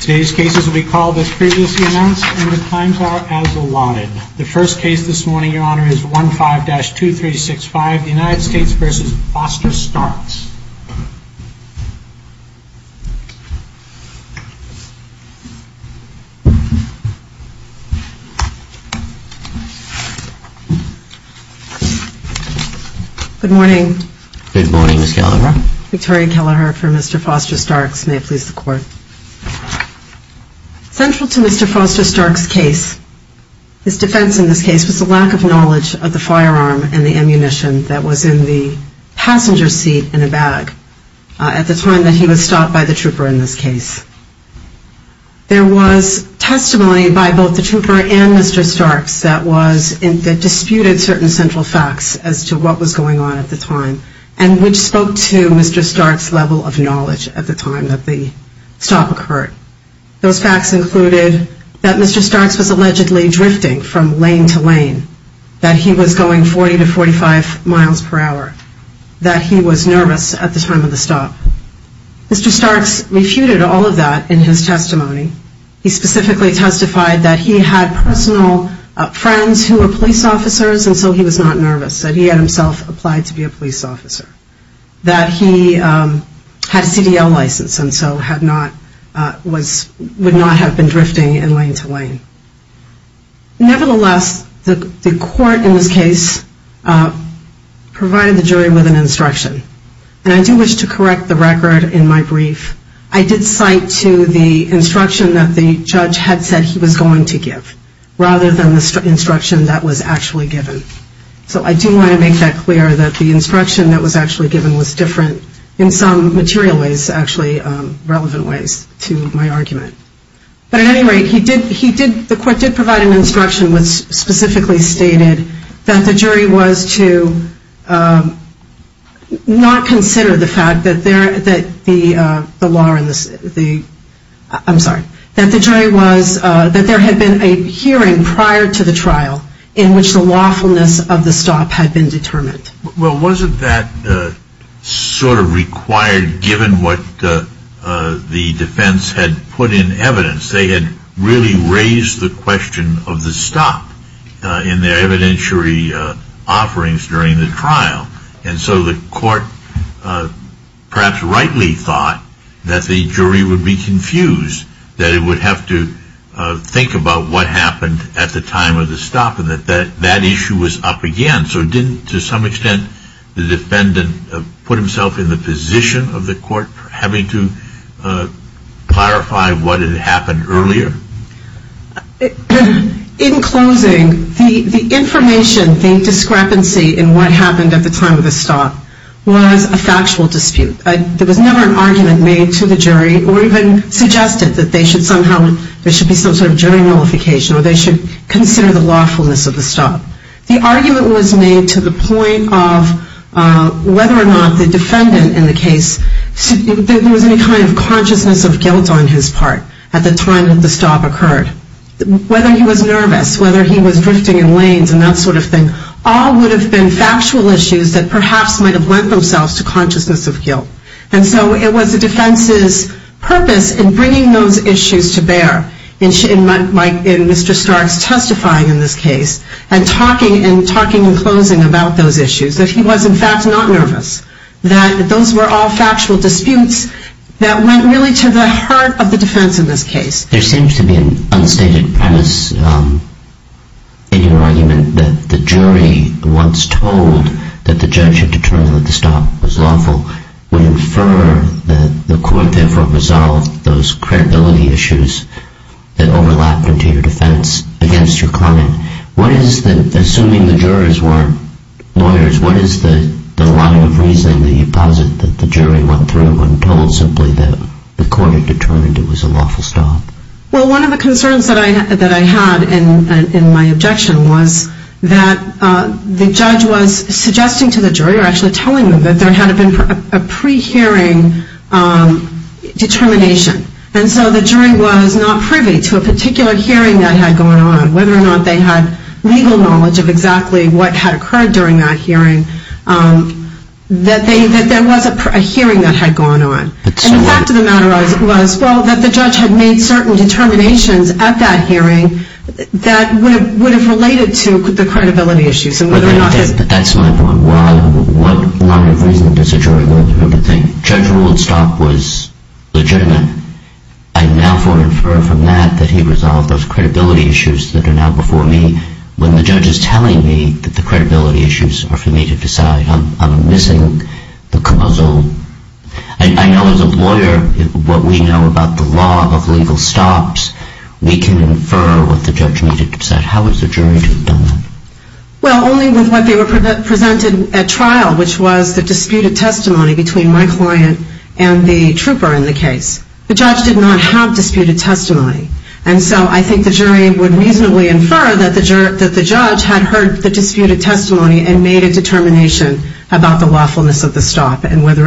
Today's cases will be called as previously announced and the times are as allotted. The first case this morning, your honor, is 15-2365, United States v. Foster-Starks. Good morning. Good morning, Ms. Kelleher. Victoria Kelleher for Mr. Foster-Starks. May it please the court. Central to Mr. Foster-Starks' case, his defense in this case was the lack of knowledge of the firearm and the ammunition that was in the passenger seat in a bag at the time that he was stopped by the trooper in this case. There was testimony by both the trooper and Mr. Starks that disputed certain central facts as to what was going on at the time and which spoke to Mr. Starks' level of knowledge at the time that the stop occurred. Those facts included that Mr. Starks was allegedly drifting from lane to lane, that he was going 40 to 45 miles per hour, that he was nervous at the time of the stop. Mr. Starks refuted all of that in his testimony. He specifically testified that he had personal friends who were police officers and so he was not nervous, that he had himself applied to be a police officer, that he had a CDL license and so would not have been drifting in lane to lane. Nevertheless, the court in this case provided the jury with an instruction. And I do wish to correct the record in my brief. I did cite to the instruction that the judge had said he was going to give rather than the instruction that was actually given. So I do want to make that clear that the instruction that was actually given was different in some material ways, actually relevant ways to my argument. But at any rate, he did, the court did provide an instruction which specifically stated that the jury was to not consider the fact that the law and the, I'm sorry, that the jury was, that there had been a hearing prior to the trial in which the lawfulness of the stop had been determined. Well wasn't that sort of required given what the defense had put in evidence? They had really raised the question of the stop in their evidentiary offerings during the trial. And so the court perhaps rightly thought that the jury would be confused, that it would have to think about what happened at the time of the stop, and that that issue was up again. So didn't to some extent the defendant put himself in the position of the court having to clarify what had happened earlier? In closing, the information, the discrepancy in what happened at the time of the stop was a factual dispute. There was never an argument made to the jury or even suggested that they should somehow, there should be some sort of jury nullification or they should consider the lawfulness of the stop. The argument was made to the point of whether or not the defendant in the case, there was any kind of consciousness of guilt on his part at the time that the stop occurred. Whether he was nervous, whether he was drifting in lanes and that sort of thing, all would have been factual issues that perhaps might have lent themselves to consciousness of guilt. And so it was the defense's purpose in bringing those issues to bear, in Mr. Stark's testifying in this case, and talking in closing about those issues, that he was in fact not nervous, that those were all factual disputes that went really to the heart of the defense in this case. There seems to be an unstated premise in your argument that the jury once told that the jury should infer that the court therefore resolved those credibility issues that overlapped into your defense against your client. What is the, assuming the jurors weren't lawyers, what is the line of reasoning that you posit that the jury went through when told simply that the court had determined it was a lawful stop? Well, one of the concerns that I had in my objection was that the judge was suggesting to the jury or actually telling them that there had been a pre-hearing determination. And so the jury was not privy to a particular hearing that had gone on, whether or not they had legal knowledge of exactly what had occurred during that hearing, that there was a hearing that had gone on. And the fact of the matter was, well, that the judge had made certain determinations at that hearing that would have related to the credibility issues and whether or not his... But that's my point. What line of reasoning does a jury go through to think, the judge ruled the stop was legitimate. I now can infer from that that he resolved those credibility issues that are now before me when the judge is telling me that the credibility issues are for me to decide. I'm missing the puzzle. I know as a lawyer, what we know about the law of legal stops, we can infer what the judge needed to decide. How is the jury to have done that? Well, only with what they were presented at trial, which was the disputed testimony between my client and the trooper in the case. The judge did not have disputed testimony. And so I think the jury would reasonably infer that the judge had heard the disputed testimony and made a determination about the lawfulness of the stop and weighed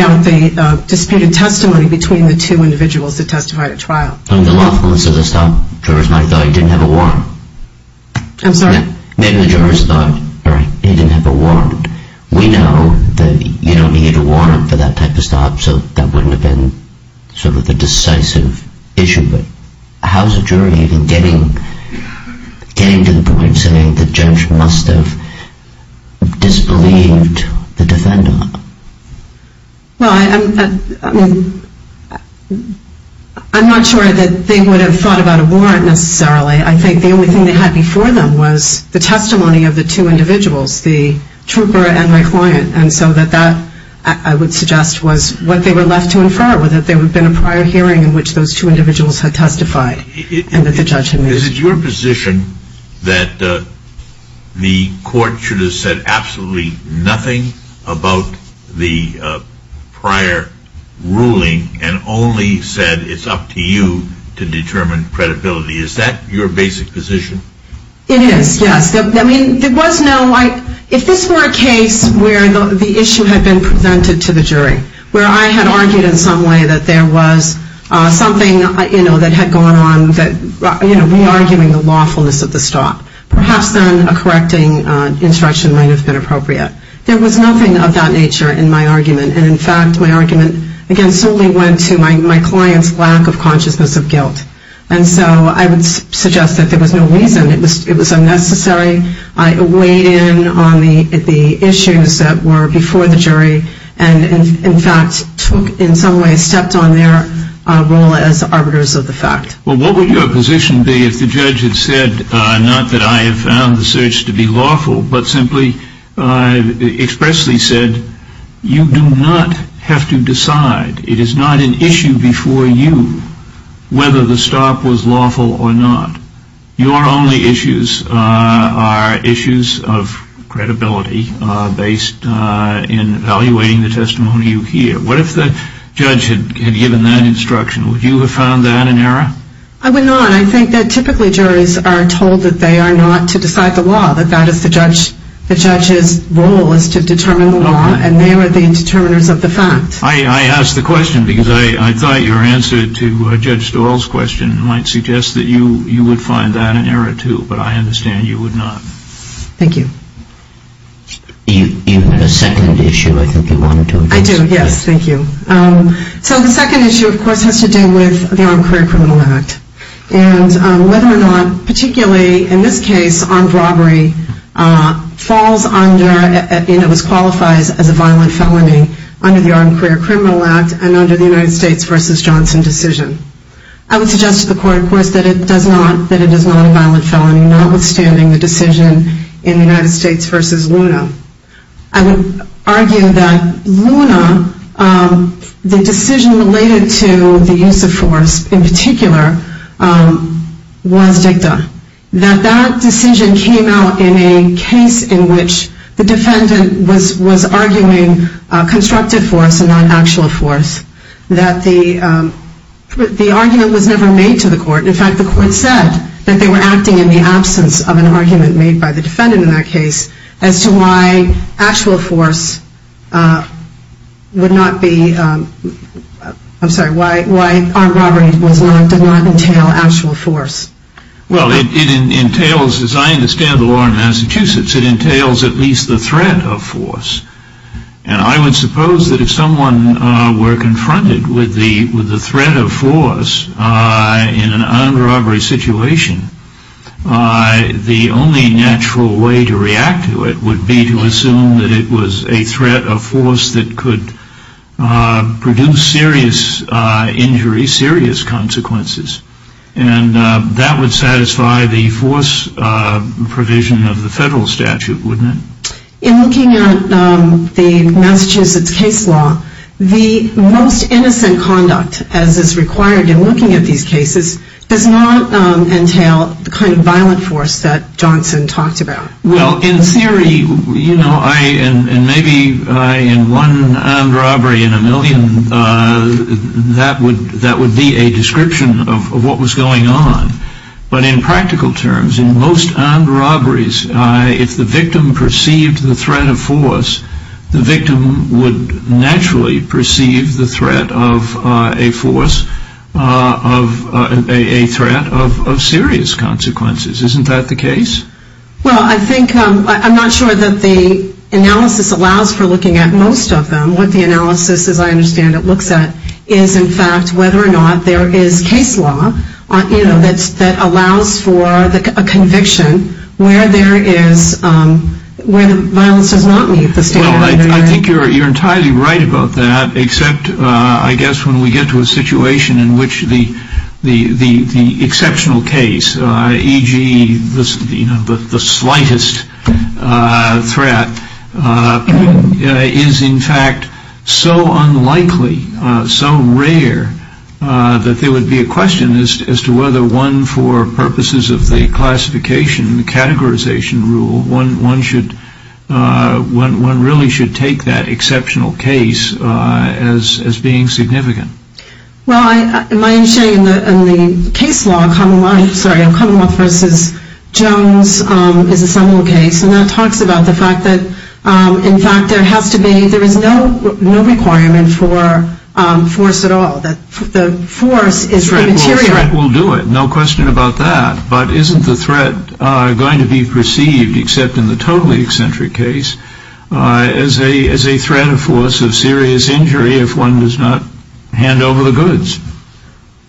out the disputed testimony between the two individuals that testified at trial. On the lawfulness of the stop, jurors might have thought he didn't have a warrant. I'm sorry? Maybe the jurors thought, all right, he didn't have a warrant. We know that you don't need a warrant for that type of stop, so that wouldn't have been sort of a decisive issue. But how is a jury even getting to the point of saying the judge must have disbelieved the defender? Well, I mean, I'm not sure that they would have thought about a warrant necessarily. I think the only thing they had before them was the testimony of the two individuals, the trooper and my client. And so that I would suggest was what they were left to infer, whether there would have been a prior hearing in which those two individuals had testified and that the judge had made a decision. Is it your position that the court should have said absolutely nothing about the prior ruling and only said it's up to you to determine credibility? Is that your basic position? It is, yes. I mean, there was no, like, if this were a case where the issue had been presented to the jury, where I had argued in some way that there was something, you of the stop. Perhaps then a correcting instruction might have been appropriate. There was nothing of that nature in my argument. And, in fact, my argument, again, solely went to my client's lack of consciousness of guilt. And so I would suggest that there was no reason. It was unnecessary. I weighed in on the issues that were before the jury and, in fact, took, in some way, stepped on their role as arbiters of the fact. Well, what would your position be if the judge had said, not that I have found the search to be lawful, but simply expressly said, you do not have to decide. It is not an issue before you whether the stop was lawful or not. Your only issues are issues of credibility based in evaluating the testimony you hear. What if the judge had given that instruction? Would you have found that an error? I would not. I think that, typically, juries are told that they are not to decide the law, that that is the judge's role, is to determine the law, and they are the determiners of the fact. I ask the question because I thought your answer to Judge Doyle's question might suggest that you would find that an error, too. But I understand you would not. Thank you. Do you have a second issue I think you wanted to address? I do, yes. Thank you. So the second issue, of course, has to do with the Armed Career Criminal Act and whether or not, particularly in this case, armed robbery falls under and qualifies as a violent felony under the Armed Career Criminal Act and under the United States v. Johnson decision. I would suggest to the court, of course, that it is not a violent felony, notwithstanding the decision in the United States v. Luna. I would argue that in the United States v. Luna, the decision related to the use of force, in particular, was dicta, that that decision came out in a case in which the defendant was arguing constructive force and not actual force, that the argument was never made to the court. In fact, the court said that they were acting in the absence of an argument made by the would not be, I'm sorry, why armed robbery did not entail actual force? Well, it entails, as I understand the law in Massachusetts, it entails at least the threat of force. And I would suppose that if someone were confronted with the threat of force in an armed robbery situation, the only natural way to react to it would be to use force that could produce serious injury, serious consequences. And that would satisfy the force provision of the federal statute, wouldn't it? In looking at the Massachusetts case law, the most innocent conduct, as is required in looking at these cases, does not entail the kind of violent force that Johnson talked Well, in theory, you know, and maybe in one armed robbery in a million, that would be a description of what was going on. But in practical terms, in most armed robberies, if the victim perceived the threat of force, the victim would naturally perceive the threat of a force, a threat of serious consequences. Isn't that the case? Well, I think, I'm not sure that the analysis allows for looking at most of them. What the analysis, as I understand it, looks at is, in fact, whether or not there is case law that allows for a conviction where there is, where the violence does not meet the standard. Well, I think you're entirely right about that, except, I guess, when we get to a situation in which the exceptional case, e.g., the slightest threat, is, in fact, so unlikely, so rare, that there would be a question as to whether one, for purposes of the classification, the categorization rule, one really should take that exceptional case as being significant. Well, my understanding in the case law, Commonwealth v. Jones, is a similar case, and that talks about the fact that, in fact, there has to be, there is no requirement for force at all. The force is immaterial. Well, a threat will do it, no question about that. But isn't the threat going to be perceived, except in the totally eccentric case, as a threat or force of serious injury if one does not hand over the goods?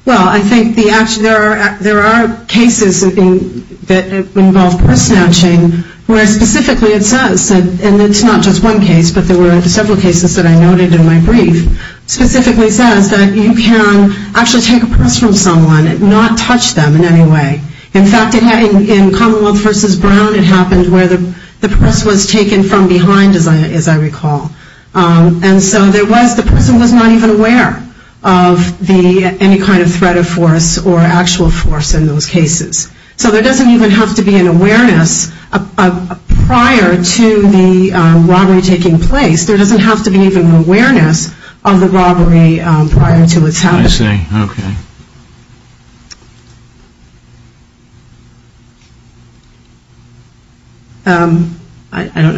Well, I think there are cases that involve purse snatching, where specifically it says, and it's not just one case, but there were several cases that I noted in my brief, specifically says that you can actually take a purse from someone and not touch them in any way. In fact, in Commonwealth v. Brown, it happened where the purse was taken from behind, as I recall. And so there was, the person was not even aware of any kind of threat or force or actual force in those cases. So there doesn't even have to be an awareness prior to the robbery taking place. I don't know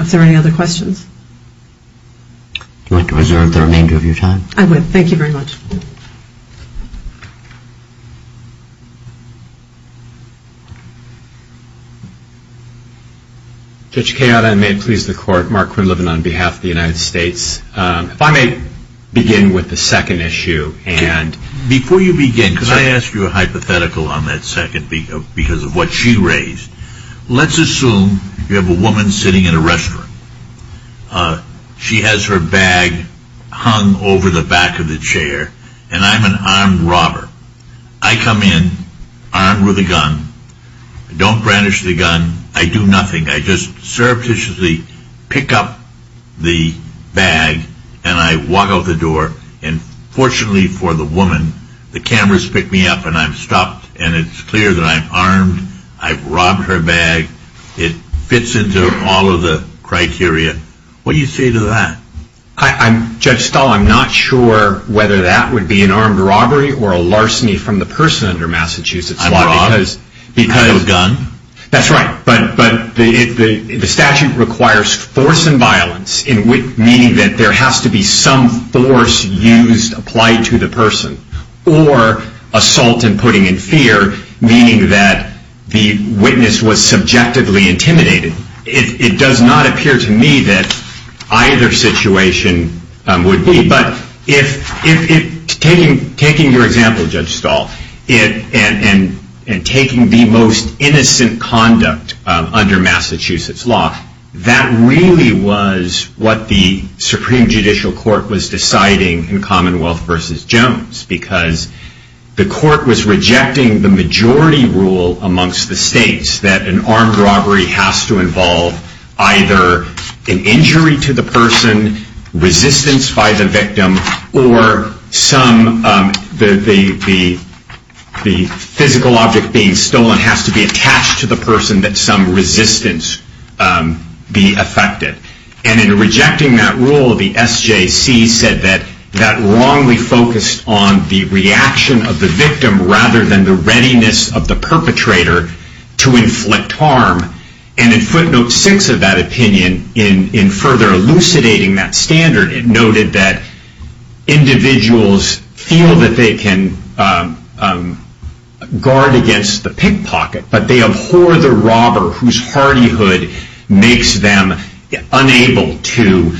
if there are any other questions. Do you want to reserve the remainder of your time? I would. Thank you very much. Judge Kayada, and may it please the Court, Mark Quinlivan on behalf of the United States Court of Appeals. If I may begin with the second issue. Before you begin, could I ask you a hypothetical on that second because of what she raised? Let's assume you have a woman sitting in a restroom. She has her bag hung over the back of the chair, and I'm an armed robber. I come in armed with a gun. I don't brandish the gun. I do nothing. I just surreptitiously pick up the bag, and I walk out the door. And fortunately for the woman, the cameras pick me up, and I'm stopped. And it's clear that I'm armed. I've robbed her bag. It fits into all of the criteria. What do you say to that? Judge Stahl, I'm not sure whether that would be an armed robbery or a larceny from the person under Massachusetts law. I'm wrong. Because. You have a gun? That's right. But the statute requires force and violence, meaning that there has to be some force used, applied to the person, or assault and putting in fear, meaning that the witness was subjectively intimidated. It does not appear to me that either situation would be. But taking your example, Judge Stahl, and taking the most innocent conduct under Massachusetts law, that really was what the Supreme Judicial Court was deciding in Commonwealth versus Jones. Because the court was rejecting the majority rule amongst the states, that an armed robbery has to involve either an injury to the person, resistance by the victim, or the physical object being stolen has to be attached to the person that some resistance be affected. And in rejecting that rule, the SJC said that that wrongly focused on the reaction of the victim, rather than the readiness of the perpetrator to inflict harm. And in footnote six of that opinion, in further elucidating that standard, it noted that individuals feel that they can guard against the pickpocket, but they abhor the robber whose hardy hood makes them unable to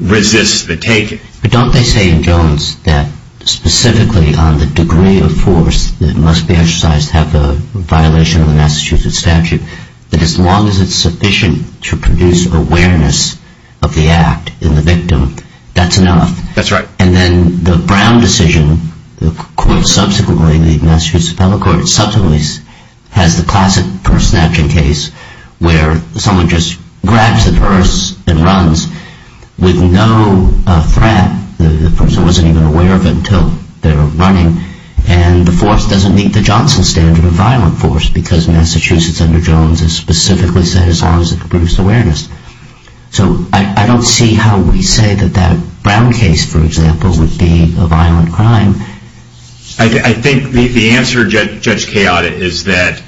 resist the taking. But don't they say in Jones that specifically on the degree of force that must be exercised to have a violation of the Massachusetts statute, that as long as it's sufficient to produce awareness of the act in the victim, that's enough? That's right. And then the Brown decision, subsequently the Massachusetts Appellate Court, subsequently has the classic purse snatching case, where someone just grabs the purse and runs with no threat. The person wasn't even aware of it until they were running. And the force doesn't meet the Johnson standard of violent force, because Massachusetts under Jones has specifically said as long as it can produce awareness. So I don't see how we say that that Brown case, for example, would be a violent crime. I think the answer, Judge Keada, is that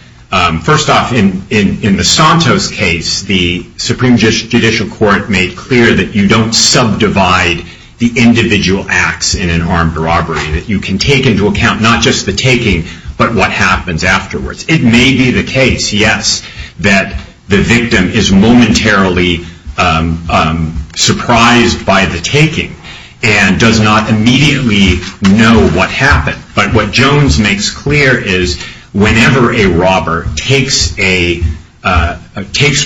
first off, in the Santos case, the Supreme Judicial Court made clear that you don't subdivide the individual acts in an armed robbery, that you can take into account not just the taking, but what happens afterwards. It may be the case, yes, that the victim is momentarily surprised by the taking and does not immediately know what happened. But what Jones makes clear is whenever a robber takes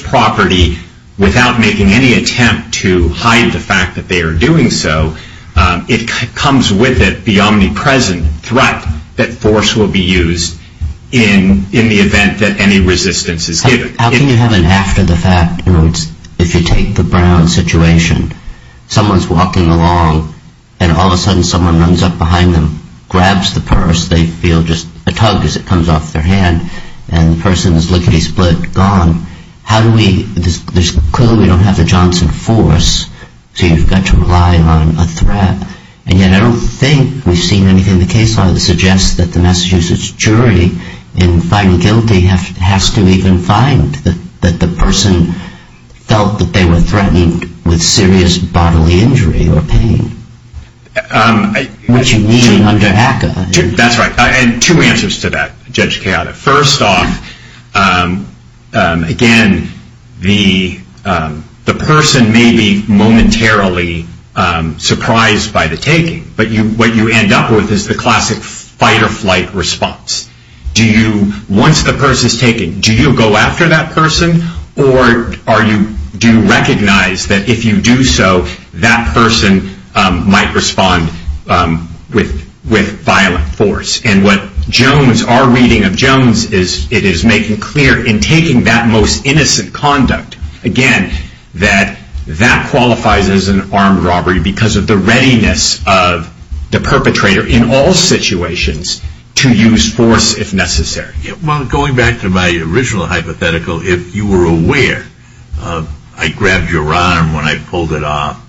property without making any attempt to hide the fact that they are doing so, it comes with it the omnipresent threat that force will be used in the event that any resistance is given. How can you have an after the fact? If you take the Brown situation, someone's walking along and all of a sudden someone runs up behind them, grabs the purse, they feel just a tug as it comes off their hand, and the person is lickety-split, gone. Clearly we don't have the Johnson force, so you've got to rely on a threat. And yet I don't think we've seen anything in the case law that suggests that the Massachusetts jury in finding guilty has to even find that the person felt that they were threatened with serious bodily injury or pain, which you mean under ACCA. That's right. I had two answers to that, Judge Chaota. First off, again, the person may be momentarily surprised by the taking, but what you end up with is the classic fight or flight response. Once the purse is taken, do you go after that person, or do you recognize that if you do so, that person might respond with violent force? And what our reading of Jones is, it is making clear in taking that most innocent conduct, again, that that qualifies as an armed robbery because of the readiness of the perpetrator in all situations to use force if necessary. Going back to my original hypothetical, if you were aware, I grabbed your arm when I pulled it off,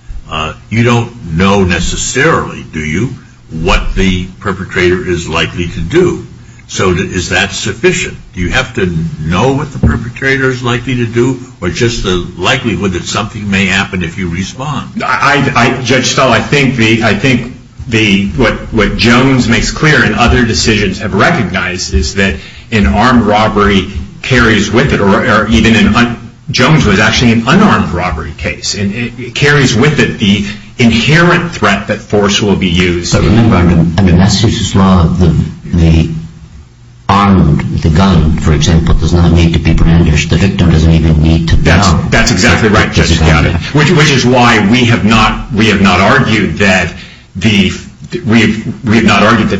you don't know necessarily, do you, what the perpetrator is likely to do. So is that sufficient? Do you have to know what the perpetrator is likely to do, or just the likelihood that something may happen if you respond? Judge Stahl, I think what Jones makes clear and other decisions have recognized is that an armed robbery carries with it, or even in Jones' was actually an unarmed robbery case, and it carries with it the inherent threat that force will be used. Remember, under Massachusetts law, the armed, the gun, for example, does not need to be brandished. The victim doesn't even need to bow. That's exactly right, Judge Stahl. Which is why we have not argued that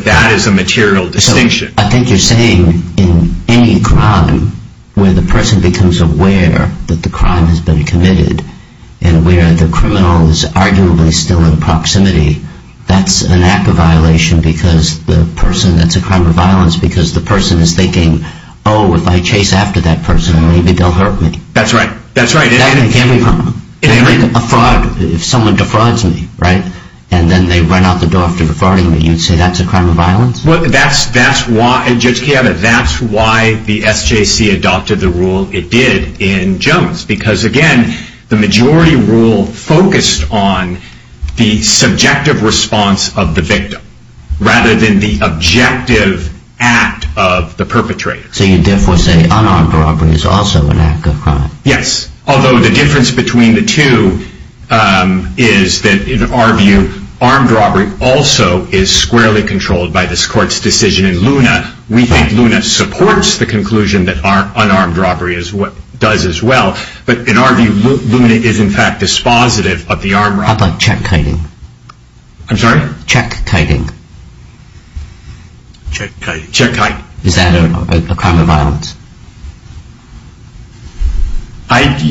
that is a material distinction. So I think you're saying in any crime, where the person becomes aware that the crime has been committed, and where the criminal is arguably still in proximity, that's an act of violation because the person, that's a crime of violence because the person is thinking, oh, if I chase after that person, maybe they'll hurt me. That's right, that's right. That can be a problem. A fraud, if someone defrauds me, right, and then they run out the door after defrauding me, you'd say that's a crime of violence? Well, that's why, Judge Chiava, that's why the SJC adopted the rule it did in Jones. Because, again, the majority rule focused on the subjective response of the victim rather than the objective act of the perpetrator. So you're therefore saying unarmed robbery is also an act of crime? Yes, although the difference between the two is that in our view, armed robbery also is squarely controlled by this court's decision in Luna. We think Luna supports the conclusion that unarmed robbery does as well. But in our view, Luna is in fact dispositive of the armed robbery. How about check kiting? I'm sorry? Check kiting. Check kiting. Is that a crime of violence?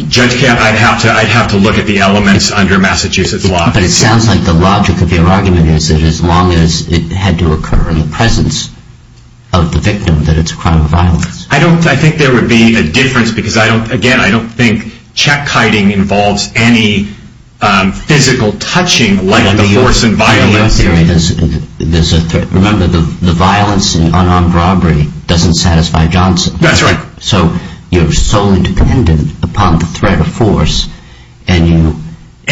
Judge Chiava, I'd have to look at the elements under Massachusetts law. But it sounds like the logic of your argument is that as long as it had to occur in the presence of the victim, that it's a crime of violence. I think there would be a difference because, again, I don't think check kiting involves any physical touching like the horse and violin. Remember, the violence in unarmed robbery doesn't satisfy Johnson. That's right. So you're solely dependent upon the threat of force in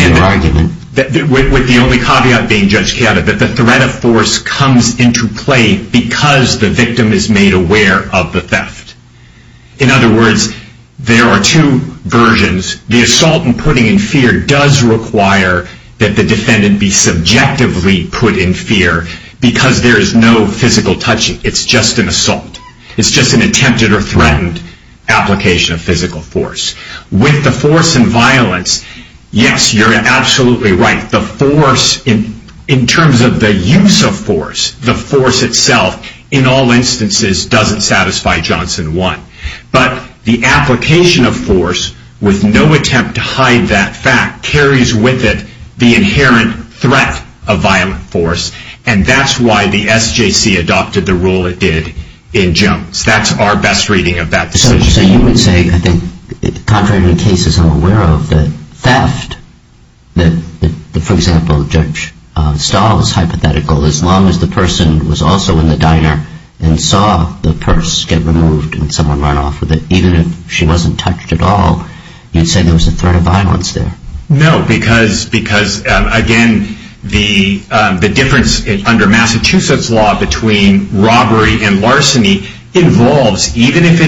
your argument. With the only caveat being, Judge Chiava, that the threat of force comes into play because the victim is made aware of the theft. In other words, there are two versions. The assault and putting in fear does require that the defendant be subjectively put in fear because there is no physical touching. It's just an assault. It's just an attempted or threatened application of physical force. With the force and violence, yes, you're absolutely right. In terms of the use of force, the force itself in all instances doesn't satisfy Johnson 1. But the application of force with no attempt to hide that fact carries with it the inherent threat of violent force. And that's why the SJC adopted the rule it did in Jones. That's our best reading of that decision. So you would say, I think, contrary to cases I'm aware of, that theft, that, for example, Judge Stahl's hypothetical, as long as the person was also in the diner and saw the purse get removed and someone run off with it, even if she wasn't touched at all, you'd say there was a threat of violence there? No, because, again, the difference under Massachusetts law between robbery and larceny involves, even if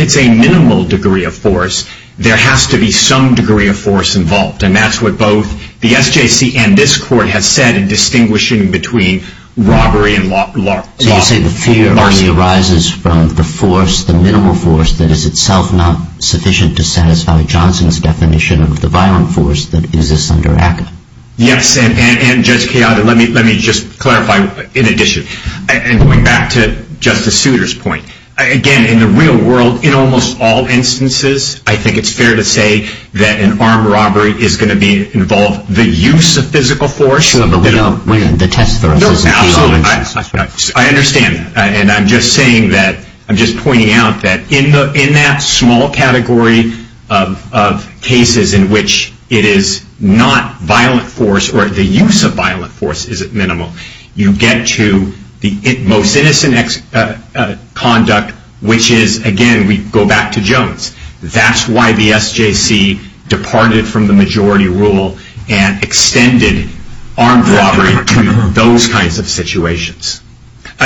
it's a minimal degree of force, there has to be some degree of force involved. And that's what both the SJC and this Court have said in distinguishing between robbery and larceny. So you're saying the fear only arises from the force, the minimal force, that is itself not sufficient to satisfy Johnson's definition of the violent force that exists under ACCA. Yes, and, Judge Keada, let me just clarify in addition. And going back to Justice Souter's point, again, in the real world, in almost all instances, I think it's fair to say that an armed robbery is going to involve the use of physical force. Sure, but we know the test for us is the use of physical force. I understand. And I'm just pointing out that in that small category of cases in which it is not violent force or the use of violent force is at minimal, you get to the most innocent conduct, which is, again, we go back to Jones. That's why the SJC departed from the majority rule and extended armed robbery to those kinds of situations.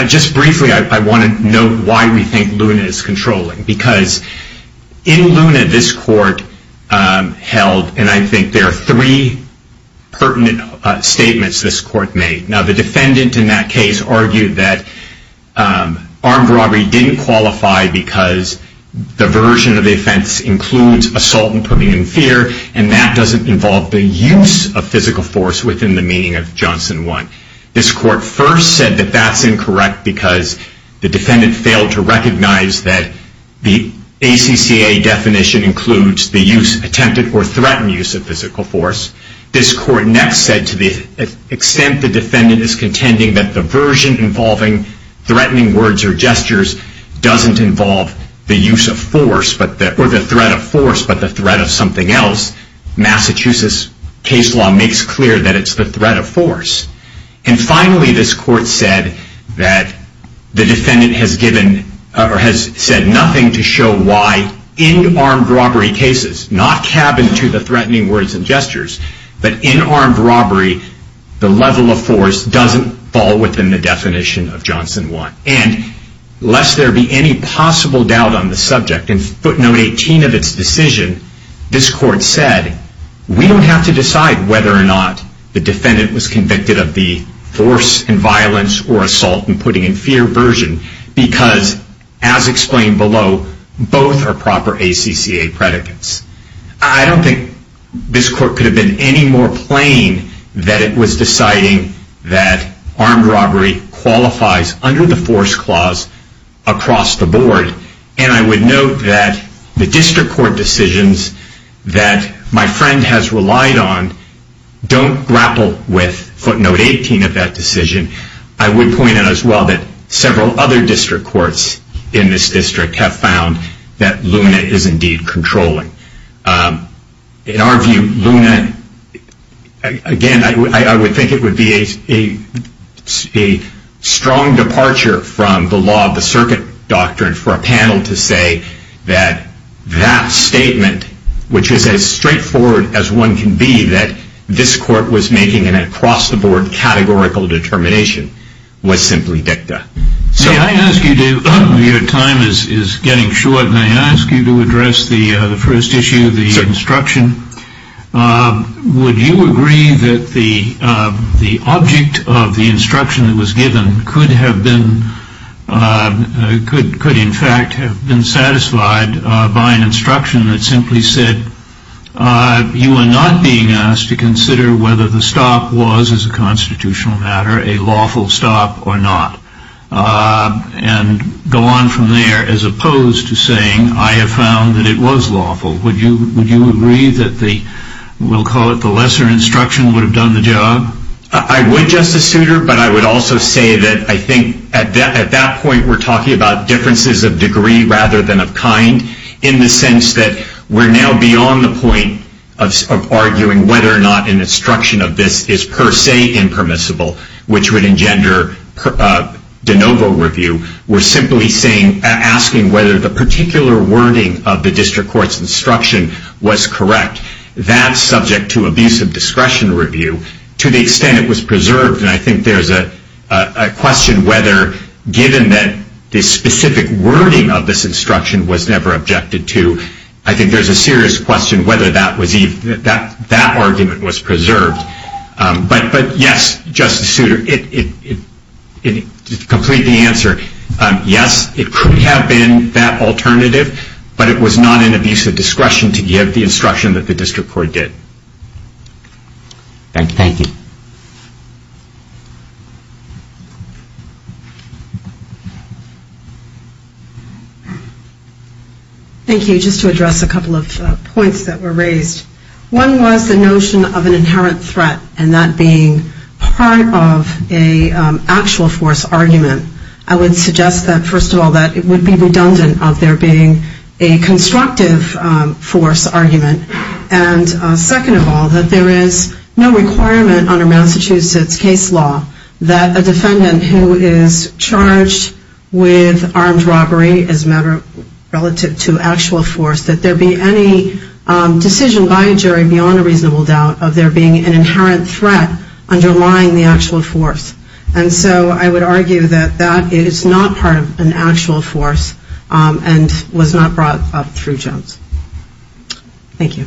Just briefly, I want to note why we think Luna is controlling. Because in Luna, this court held, and I think there are three pertinent statements this court made. Now, the defendant in that case argued that armed robbery didn't qualify because the version of the offense includes assault and putting in fear, and that doesn't involve the use of physical force within the meaning of Johnson 1. This court first said that that's incorrect because the defendant failed to recognize that the ACCA definition includes the use, attempted or threatened use of physical force. This court next said to the extent the defendant is contending that the version involving threatening words or gestures doesn't involve the use of force, or the threat of force, but the threat of something else. Massachusetts case law makes clear that it's the threat of force. And finally, this court said that the defendant has said nothing to show why in armed robbery cases, not cabin to the threatening words and gestures, but in armed robbery, the level of force doesn't fall within the definition of Johnson 1. And lest there be any possible doubt on the subject, in footnote 18 of its decision, this court said, we don't have to decide whether or not the defendant was convicted of the force and violence or assault and putting in fear version because, as explained below, both are proper ACCA predicates. I don't think this court could have been any more plain that it was deciding that armed robbery qualifies under the force clause across the board. And I would note that the district court decisions that my friend has relied on don't grapple with footnote 18 of that decision. I would point out as well that several other district courts in this district have found that LUNA is indeed controlling. In our view, LUNA, again, I would think it would be a strong departure from the law of the circuit doctrine for a panel to say that that statement, which is as straightforward as one can be, that this court was making an across the board categorical determination, was simply dicta. See, I ask you to, your time is getting short, and I ask you to address the first issue, the instruction. Would you agree that the object of the instruction that was given could have been, could in fact have been satisfied by an instruction that simply said, you are not being asked to consider whether the stop was, as a constitutional matter, a lawful stop or not, and go on from there as opposed to saying, I have found that it was lawful. Would you agree that the, we'll call it the lesser instruction would have done the job? I would, Justice Souter, but I would also say that I think at that point we're talking about differences of degree rather than of kind in the sense that we're now beyond the point of arguing whether or not an instruction of this is per se impermissible, which would engender de novo review. We're simply saying, asking whether the particular wording of the district court's instruction was correct. That's subject to abuse of discretion review to the extent it was preserved, and I think there's a question whether given that the specific wording of this instruction was never objected to, I think there's a serious question whether that argument was preserved. But yes, Justice Souter, to complete the answer, yes, it could have been that alternative, but it was not in abuse of discretion to give the instruction that the district court did. Thank you. Thank you. Just to address a couple of points that were raised. One was the notion of an inherent threat and that being part of an actual force argument. I would suggest that, first of all, that it would be redundant of there being a constructive force argument, and second of all, that there is no requirement under Massachusetts case law that a defendant who is charged with armed robbery as a matter relative to actual force, that there be any decision by a jury beyond a reasonable doubt of there being an inherent threat underlying the actual force. And so I would argue that that is not part of an actual force and was not brought up through Jones. Thank you.